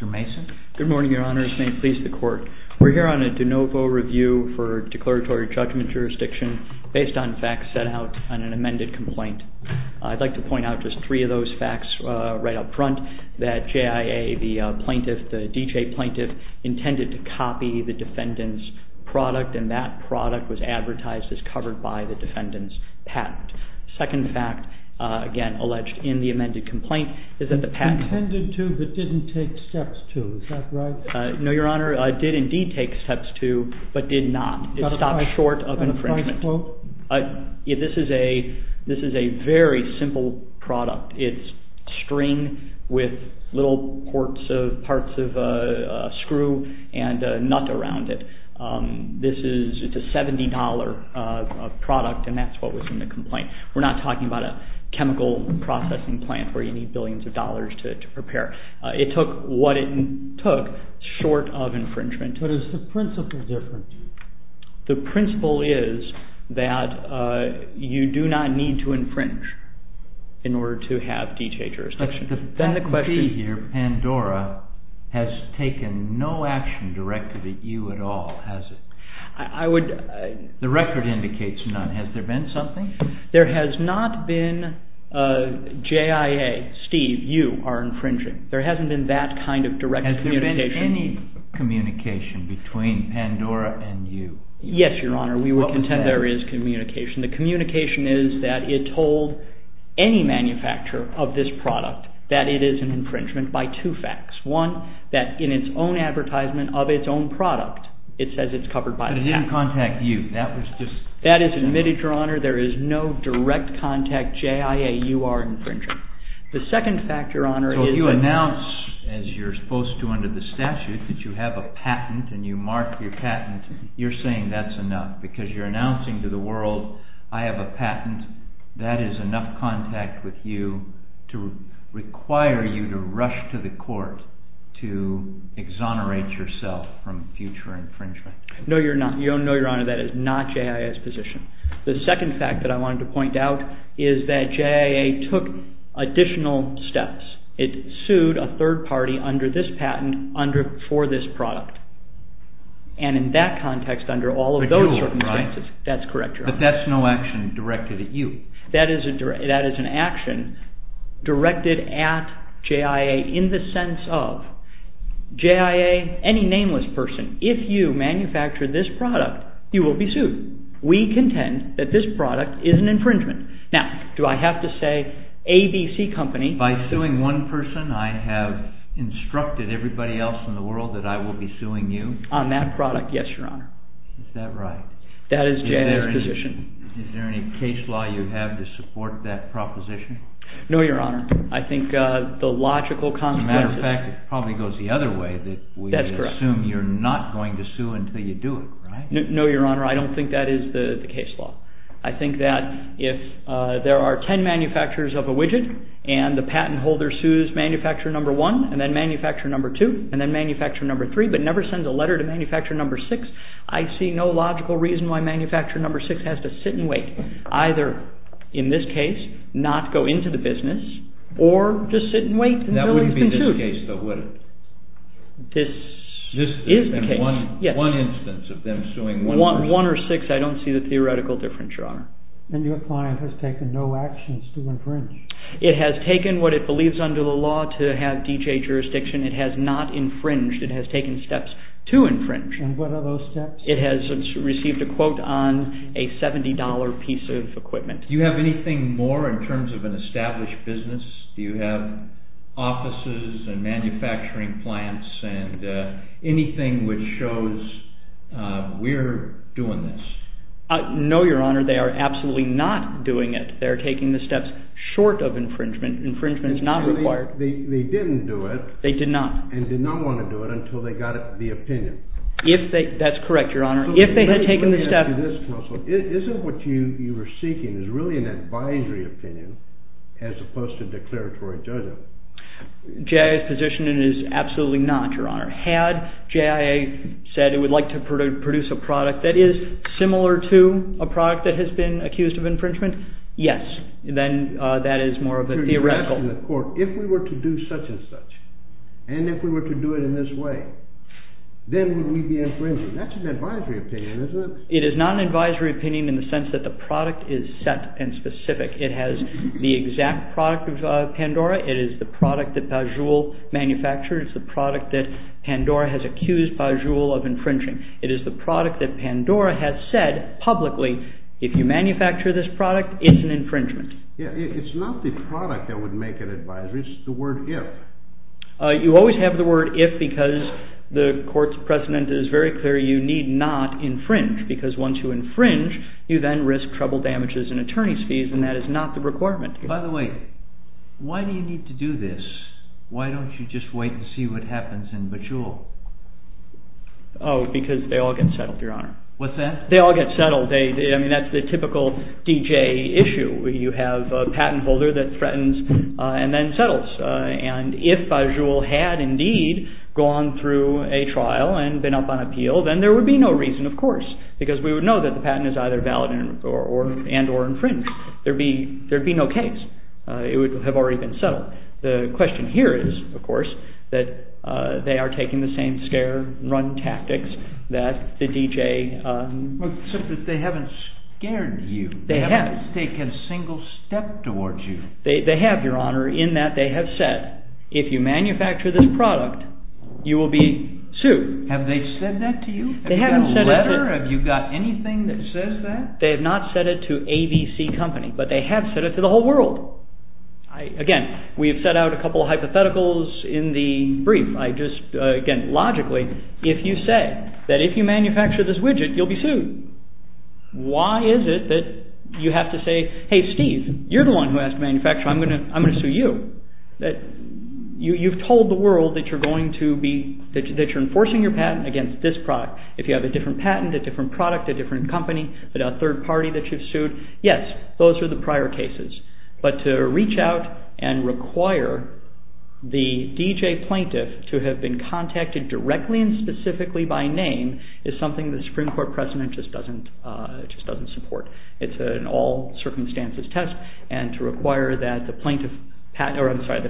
Mr. Mason. Good morning, Your Honor. This may please the Court. We're here on a de novo review for declaratory judgment jurisdiction based on facts set out on an amended complaint. I'd like to point out just three of those facts right up front that JIA, the plaintiff, the DJA plaintiff, intended to copy the defendant's product and that product was advertised as covered by the defendant's patent. Second fact, again, alleged in the amended complaint, is that the patent… Intended to but didn't take steps to, is that right? No, Your Honor. It did indeed take steps to but did not. It stopped short of infringement. That's my quote? This is a very simple product. It's string with little parts of a screw and a nut around it. This is a $70 product and that's what was in the complaint. We're not talking about a chemical processing plant where you need billions of dollars to prepare. It took what it took short of infringement. But is the principle different? The principle is that you do not need to infringe in order to have DJA jurisdiction. But the fact be here, Pandora has taken no action directed at you at all, has it? I would… The record indicates none. Has there been something? There has not been JIA, Steve, you are infringing. There hasn't been that kind of direct communication. Has there been any communication between Pandora and you? Yes, Your Honor. We would contend there is communication. The communication is that it told any manufacturer of this product that it is an infringement by two facts. One, that in its own advertisement of its own product, it says it's covered by the patent. But it didn't contact you. That was just… That is admitted, Your Honor. There is no direct contact. JIA, you are infringing. The second fact, Your Honor, is… So you announce, as you're supposed to under the statute, that you have a patent and you mark your patent. You're saying that's enough because you're announcing to the world, I have a patent. That is enough contact with you to require you to rush to the court to exonerate yourself from future infringement. No, Your Honor. That is not JIA's position. The second fact that I wanted to point out is that JIA took additional steps. It sued a third party under this patent for this product. And in that context, under all of those circumstances, that's correct, Your Honor. But that's no action directed at you. That is an action directed at JIA in the sense of JIA, any nameless person, if you manufacture this product, you will be sued. We contend that this product is an infringement. Now, do I have to say ABC Company… By suing one person, I have instructed everybody else in the world that I will be suing you? On that product, yes, Your Honor. Is that right? That is JIA's position. Is there any case law you have to support that proposition? No, Your Honor. I think the logical consequences… As a matter of fact, it probably goes the other way that we assume you're not going to sue until you do it, right? No, Your Honor. I don't think that is the case law. I think that if there are ten manufacturers of a widget and the patent holder sues manufacturer number one, and then manufacturer number two, and then manufacturer number three, but never sends a letter to manufacturer number six, I see no logical reason why manufacturer number six has to sit and wait. Either, in this case, not go into the business, or just sit and wait until it's been sued. That wouldn't be this case, though, would it? This is the case. One instance of them suing one… One or six, I don't see the theoretical difference, Your Honor. And your client has taken no actions to infringe? It has taken what it believes under the law to have DJ jurisdiction. It has not infringed. It has taken steps to infringe. And what are those steps? It has received a quote on a $70 piece of equipment. Do you have anything more in terms of an established business? Do you have offices and manufacturing plants and anything which shows we're doing this? No, Your Honor. They are absolutely not doing it. They are taking the steps short of infringement. Infringement is not required. They didn't do it. They did not. And did not want to do it until they got the opinion. That's correct, Your Honor. If they had taken the steps… Isn't what you were seeking is really an advisory opinion as opposed to a declaratory judgment? JIA's position is absolutely not, Your Honor. Had JIA said it would like to produce a product that is similar to a product that has been accused of infringement, yes. Then that is more of a theoretical… If we were to do such and such, and if we were to do it in this way, then would we be infringing? That's an advisory opinion, isn't it? It is not an advisory opinion in the sense that the product is set and specific. It has the exact product of Pandora. It is the product that Pajul manufactured. It's the product that Pandora has accused Pajul of infringing. It is the product that Pandora has said publicly, if you manufacture this product, it's an infringement. It's not the product that would make an advisory. It's the word if. You always have the word if because the court's precedent is very clear. You need not infringe because once you infringe, you then risk trouble damages and attorney's fees, and that is not the requirement. By the way, why do you need to do this? Why don't you just wait and see what happens in Pajul? Oh, because they all get settled, Your Honor. What's that? They all get settled. I mean, that's the typical DJ issue. You have a patent holder that threatens and then settles. And if Pajul had indeed gone through a trial and been up on appeal, then there would be no reason, of course, because we would know that the patent is either valid and or infringed. There would be no case. It would have already been settled. The question here is, of course, that they are taking the same scare and run tactics that the DJ. Except that they haven't scared you. They haven't. They haven't taken a single step towards you. They have, Your Honor, in that they have said, if you manufacture this product, you will be sued. Have they said that to you? Have you got a letter? Have you got anything that says that? They have not said it to ABC Company, but they have said it to the whole world. Again, we have set out a couple of hypotheticals in the brief. I just, again, logically, if you say that if you manufacture this widget, you'll be sued, why is it that you have to say, hey, Steve, you're the one who has to manufacture it. I'm going to sue you. You've told the world that you're going to be, that you're enforcing your patent against this product. If you have a different patent, a different product, a different company, a third party that you've sued, yes, those are the prior cases. But to reach out and require the DJ plaintiff to have been contacted directly and specifically by name is something the Supreme Court precedent just doesn't support. It's an all-circumstances test. And to require that the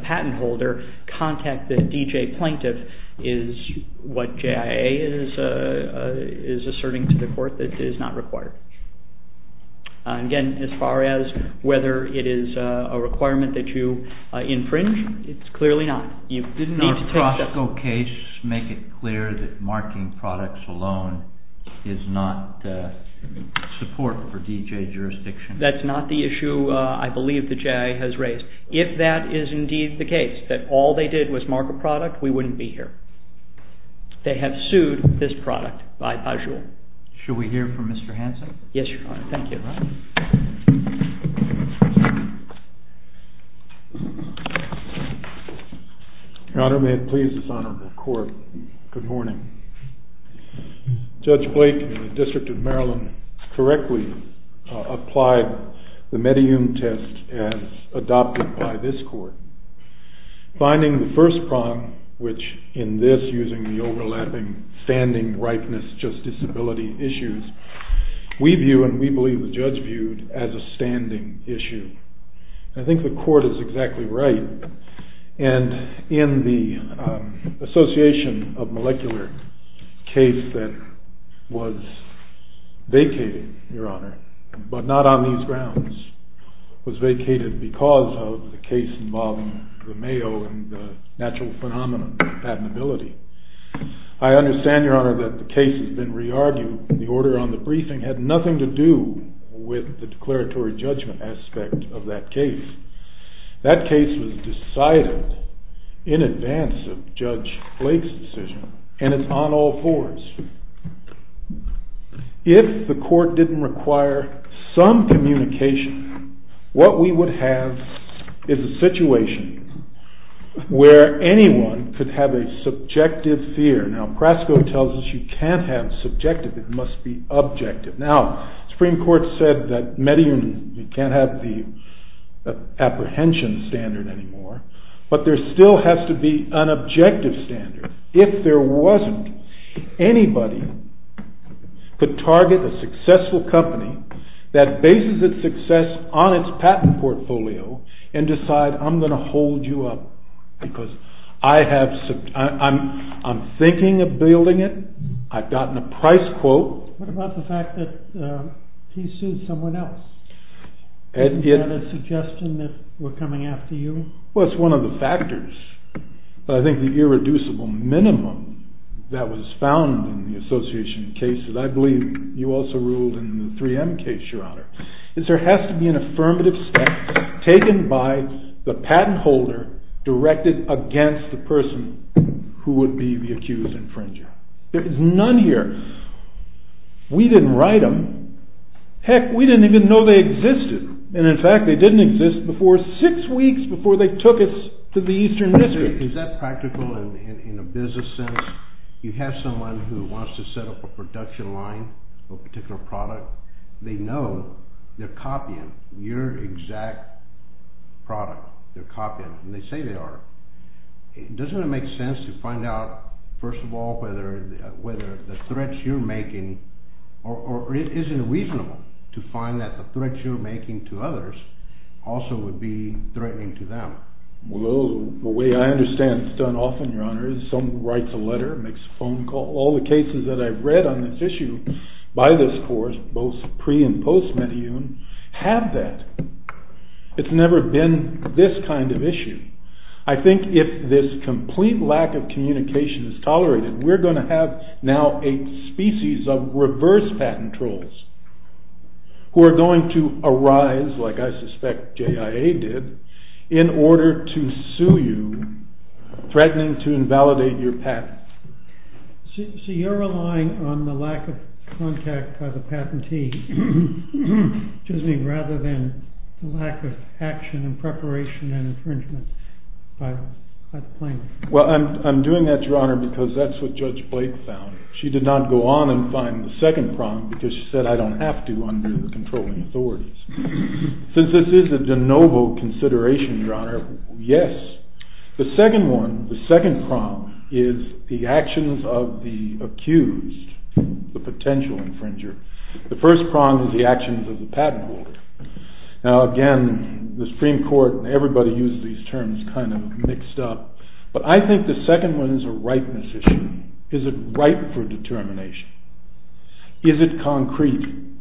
patent holder contact the DJ plaintiff is what JIA is asserting to the court that is not required. Again, as far as whether it is a requirement that you infringe, it's clearly not. Didn't our Costco case make it clear that marking products alone is not support for DJ jurisdiction? That's not the issue I believe the JIA has raised. If that is indeed the case, that all they did was mark a product, we wouldn't be here. They have sued this product by casual. Should we hear from Mr. Hanson? Yes, Your Honor. Thank you. Your Honor, may it please this honorable court, good morning. Judge Blake in the District of Maryland correctly applied the medium test as adopted by this court. Finding the first problem which in this using the overlapping standing, ripeness, just disability issues, we view and we believe the judge viewed as a standing issue. I think the court is exactly right. And in the association of molecular case that was vacated, Your Honor, but not on these grounds, was vacated because of the case involving the Mayo and the natural phenomenon patentability. I understand, Your Honor, that the case has been re-argued. The order on the briefing had nothing to do with the declaratory judgment aspect of that case. That case was decided in advance of Judge Blake's decision and it's on all fours. If the court didn't require some communication, what we would have is a situation where anyone could have a subjective fear. Now, Prasco tells us you can't have subjective, it must be objective. Now, Supreme Court said that Medellin can't have the apprehension standard anymore, but there still has to be an objective standard. If there wasn't, anybody could target a successful company that bases its success on its patent portfolio and decide I'm going to hold you up because I'm thinking of building it, I've gotten a price quote. What about the fact that he sued someone else? Isn't that a suggestion that we're coming after you? Well, it's one of the factors. I think the irreducible minimum that was found in the association of cases, I believe you also ruled in the 3M case, Your Honor, is there has to be an affirmative step taken by the patent holder directed against the person who would be the accused infringer. There's none here. We didn't write them. Heck, we didn't even know they existed. And in fact, they didn't exist before six weeks before they took us to the Eastern District. Is that practical in a business sense? You have someone who wants to set up a production line, a particular product. They know they're copying your exact product. They're copying it, and they say they are. Doesn't it make sense to find out, first of all, whether the threats you're making, or is it reasonable to find that the threats you're making to others also would be threatening to them? Well, the way I understand it is done often, Your Honor, is someone writes a letter, makes a phone call. All the cases that I've read on this issue by this course, both pre- and post-Meteun, have that. It's never been this kind of issue. I think if this complete lack of communication is tolerated, we're going to have now a species of reverse patent trolls who are going to arise, like I suspect JIA did, in order to sue you, threatening to invalidate your patent. So you're relying on the lack of contact by the patentee, rather than the lack of action and preparation and infringement by the plaintiff? Well, I'm doing that, Your Honor, because that's what Judge Blake found. She did not go on and find the second problem, because she said, I don't have to under the controlling authorities. Since this is a de novo consideration, Your Honor, yes. The second one, the second problem, is the actions of the accused, the potential infringer. The first problem is the actions of the patent holder. Now again, the Supreme Court and everybody uses these terms kind of mixed up, but I think the second one is a rightness issue. Is it right for determination? Is it concrete?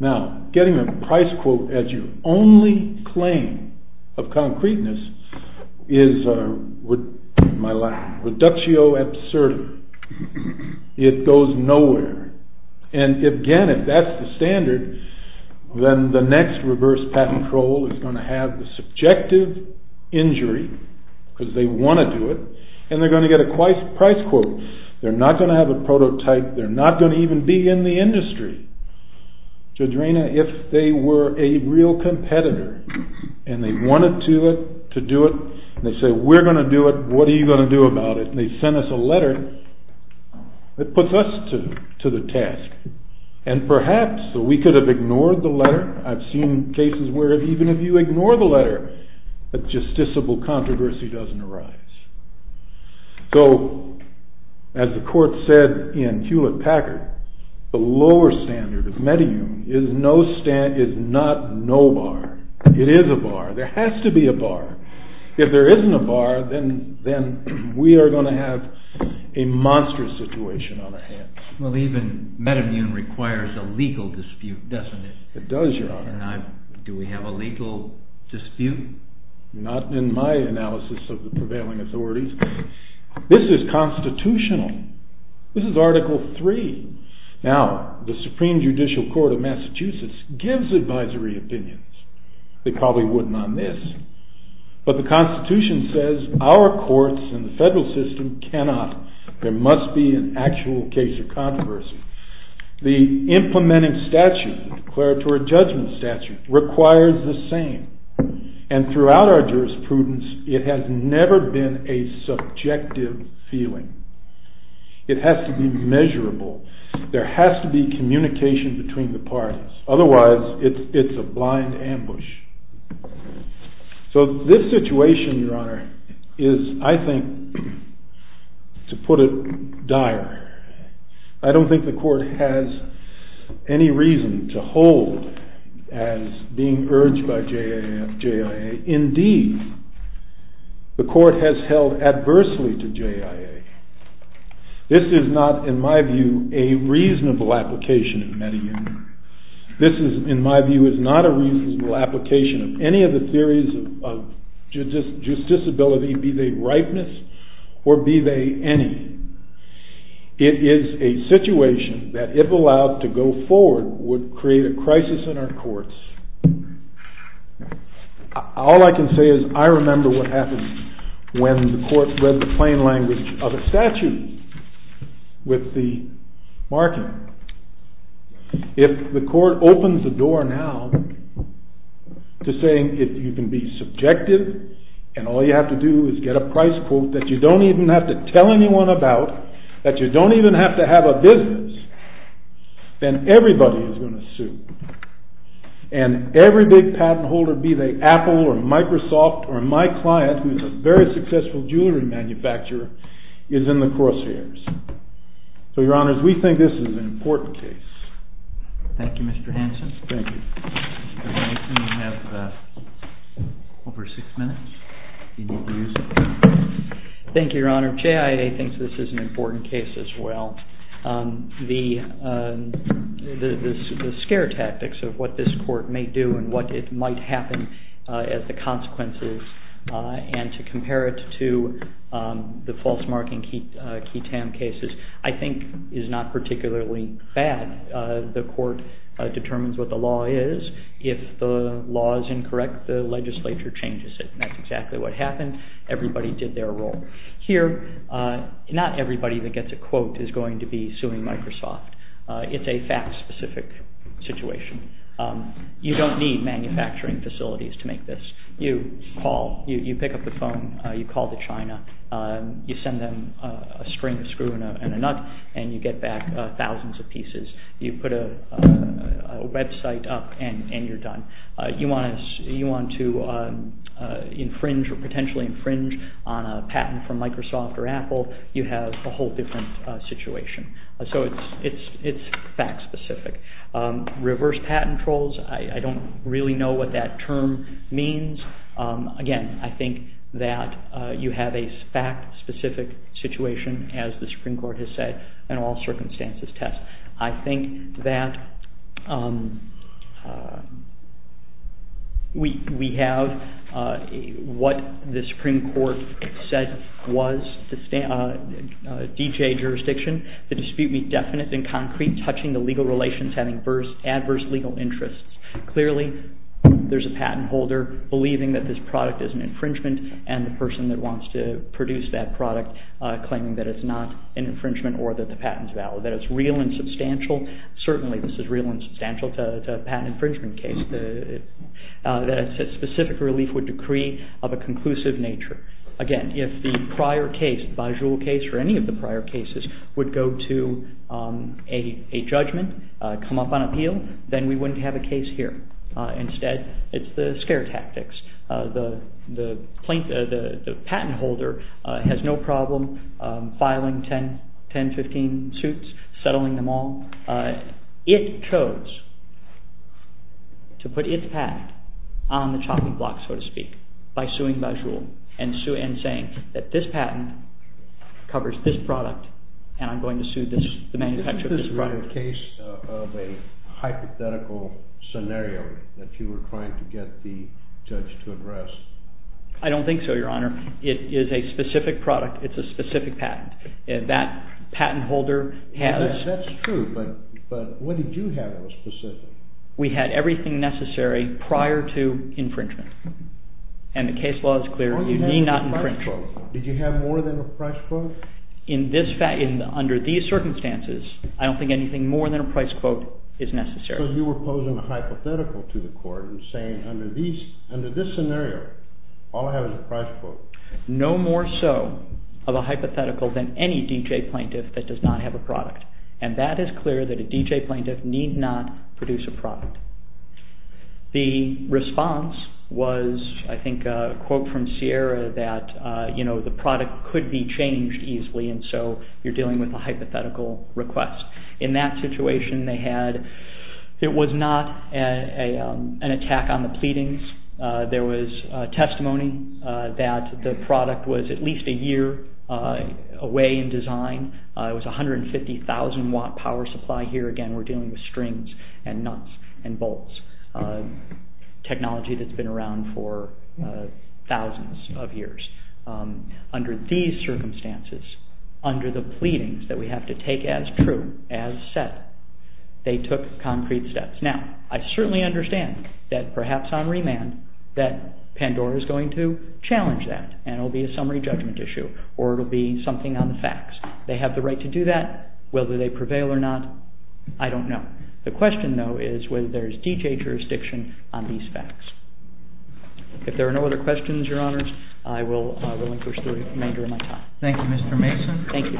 Now, getting a price quote as your only claim of concreteness is a reductio absurdum. It goes nowhere. And again, if that's the standard, then the next reverse patent troll is going to have the subjective injury, because they want to do it, and they're going to get a price quote. They're not going to have a prototype. They're not going to even be in the industry. Judge Raina, if they were a real competitor, and they wanted to do it, and they say, we're going to do it, what are you going to do about it? And they send us a letter that puts us to the test. And perhaps we could have ignored the letter. I've seen cases where even if you ignore the letter, a justiciable controversy doesn't arise. So as the court said in Hewlett-Packard, the lower standard of metemune is not no bar. It is a bar. There has to be a bar. If there isn't a bar, then we are going to have a monstrous situation on our hands. Well, even metemune requires a legal dispute, doesn't it? It does, Your Honor. Do we have a legal dispute? Not in my analysis of the prevailing authorities. This is constitutional. This is Article III. Now, the Supreme Judicial Court of Massachusetts gives advisory opinions. They probably wouldn't on this. But the Constitution says our courts and the federal system cannot. There must be an actual case of controversy. The implementing statute, declaratory judgment statute, requires the same. And throughout our jurisprudence, it has never been a subjective feeling. It has to be measurable. There has to be communication between the parties. Otherwise, it's a blind ambush. So this situation, Your Honor, is, I think, to put it dire. I don't think the court has any reason to hold as being urged by JIA. Indeed, the court has held adversely to JIA. This is not, in my view, a reasonable application of metemune. This, in my view, is not a reasonable application of any of the theories of justicability, be they ripeness or be they any. It is a situation that, if allowed to go forward, would create a crisis in our courts. All I can say is I remember what happened when the court read the plain language of a statute with the marking. If the court opens the door now to saying you can be subjective and all you have to do is get a price quote that you don't even have to tell anyone about, that you don't even have to have a business, then everybody is going to sue. And every big patent holder, be they Apple or Microsoft or my client, who is a very successful jewelry manufacturer, is in the crosshairs. So, Your Honors, we think this is an important case. Thank you, Mr. Hanson. Thank you. Mr. Hanson, you have over six minutes. Thank you, Your Honor. JIA thinks this is an important case as well. The scare tactics of what this court may do and what might happen as the consequences and to compare it to the false marking ketam cases I think is not particularly bad. The court determines what the law is. If the law is incorrect, the legislature changes it. That's exactly what happened. Everybody did their role. Here, not everybody that gets a quote is going to be suing Microsoft. It's a fact-specific situation. You don't need manufacturing facilities to make this. You call. You pick up the phone. You call to China. You send them a string of screw and a nut, and you get back thousands of pieces. You put a website up, and you're done. You want to infringe or potentially infringe on a patent from Microsoft or Apple, you have a whole different situation. So it's fact-specific. Reverse patent trolls, I don't really know what that term means. Again, I think that you have a fact-specific situation, as the Supreme Court has said, and all circumstances test. I think that we have what the Supreme Court said was D.J. jurisdiction. The dispute be definite and concrete, touching the legal relations, having adverse legal interests. Clearly, there's a patent holder believing that this product is an infringement, and the person that wants to produce that product claiming that it's not an infringement or that the patent's valid, that it's real and substantial. Certainly, this is real and substantial. It's a patent infringement case. Specific relief would decree of a conclusive nature. Again, if the prior case, the Bajul case or any of the prior cases, would go to a judgment, come up on appeal, then we wouldn't have a case here. Instead, it's the scare tactics. The patent holder has no problem filing 10, 15 suits, settling them all. It chose to put its patent on the chopping block, so to speak, by suing Bajul and saying that this patent covers this product, Was that a case of a hypothetical scenario that you were trying to get the judge to address? I don't think so, Your Honor. It is a specific product. It's a specific patent. That patent holder has... That's true, but what did you have that was specific? We had everything necessary prior to infringement. And the case law is clear. You need not infringe. Did you have more than a price quote? Under these circumstances, I don't think anything more than a price quote is necessary. So you were posing a hypothetical to the court and saying, under this scenario, all I have is a price quote. No more so of a hypothetical than any D.J. plaintiff that does not have a product. And that is clear that a D.J. plaintiff need not produce a product. The response was, I think, a quote from Sierra that, you know, the product could be changed easily, and so you're dealing with a hypothetical request. In that situation, they had... It was not an attack on the pleadings. There was testimony that the product was at least a year away in design. It was a 150,000-watt power supply. Here again, we're dealing with strings and nuts and bolts, technology that's been around for thousands of years. Under these circumstances, under the pleadings that we have to take as true, as set, they took concrete steps. Now, I certainly understand that, perhaps on remand, that Pandora is going to challenge that, and it will be a summary judgment issue, or it will be something on the facts. They have the right to do that. Whether they prevail or not, I don't know. The question, though, is whether there is D.J. jurisdiction on these facts. If there are no other questions, Your Honor, I will encourage the remainder of my time. Thank you, Mr. Mason. Thank you.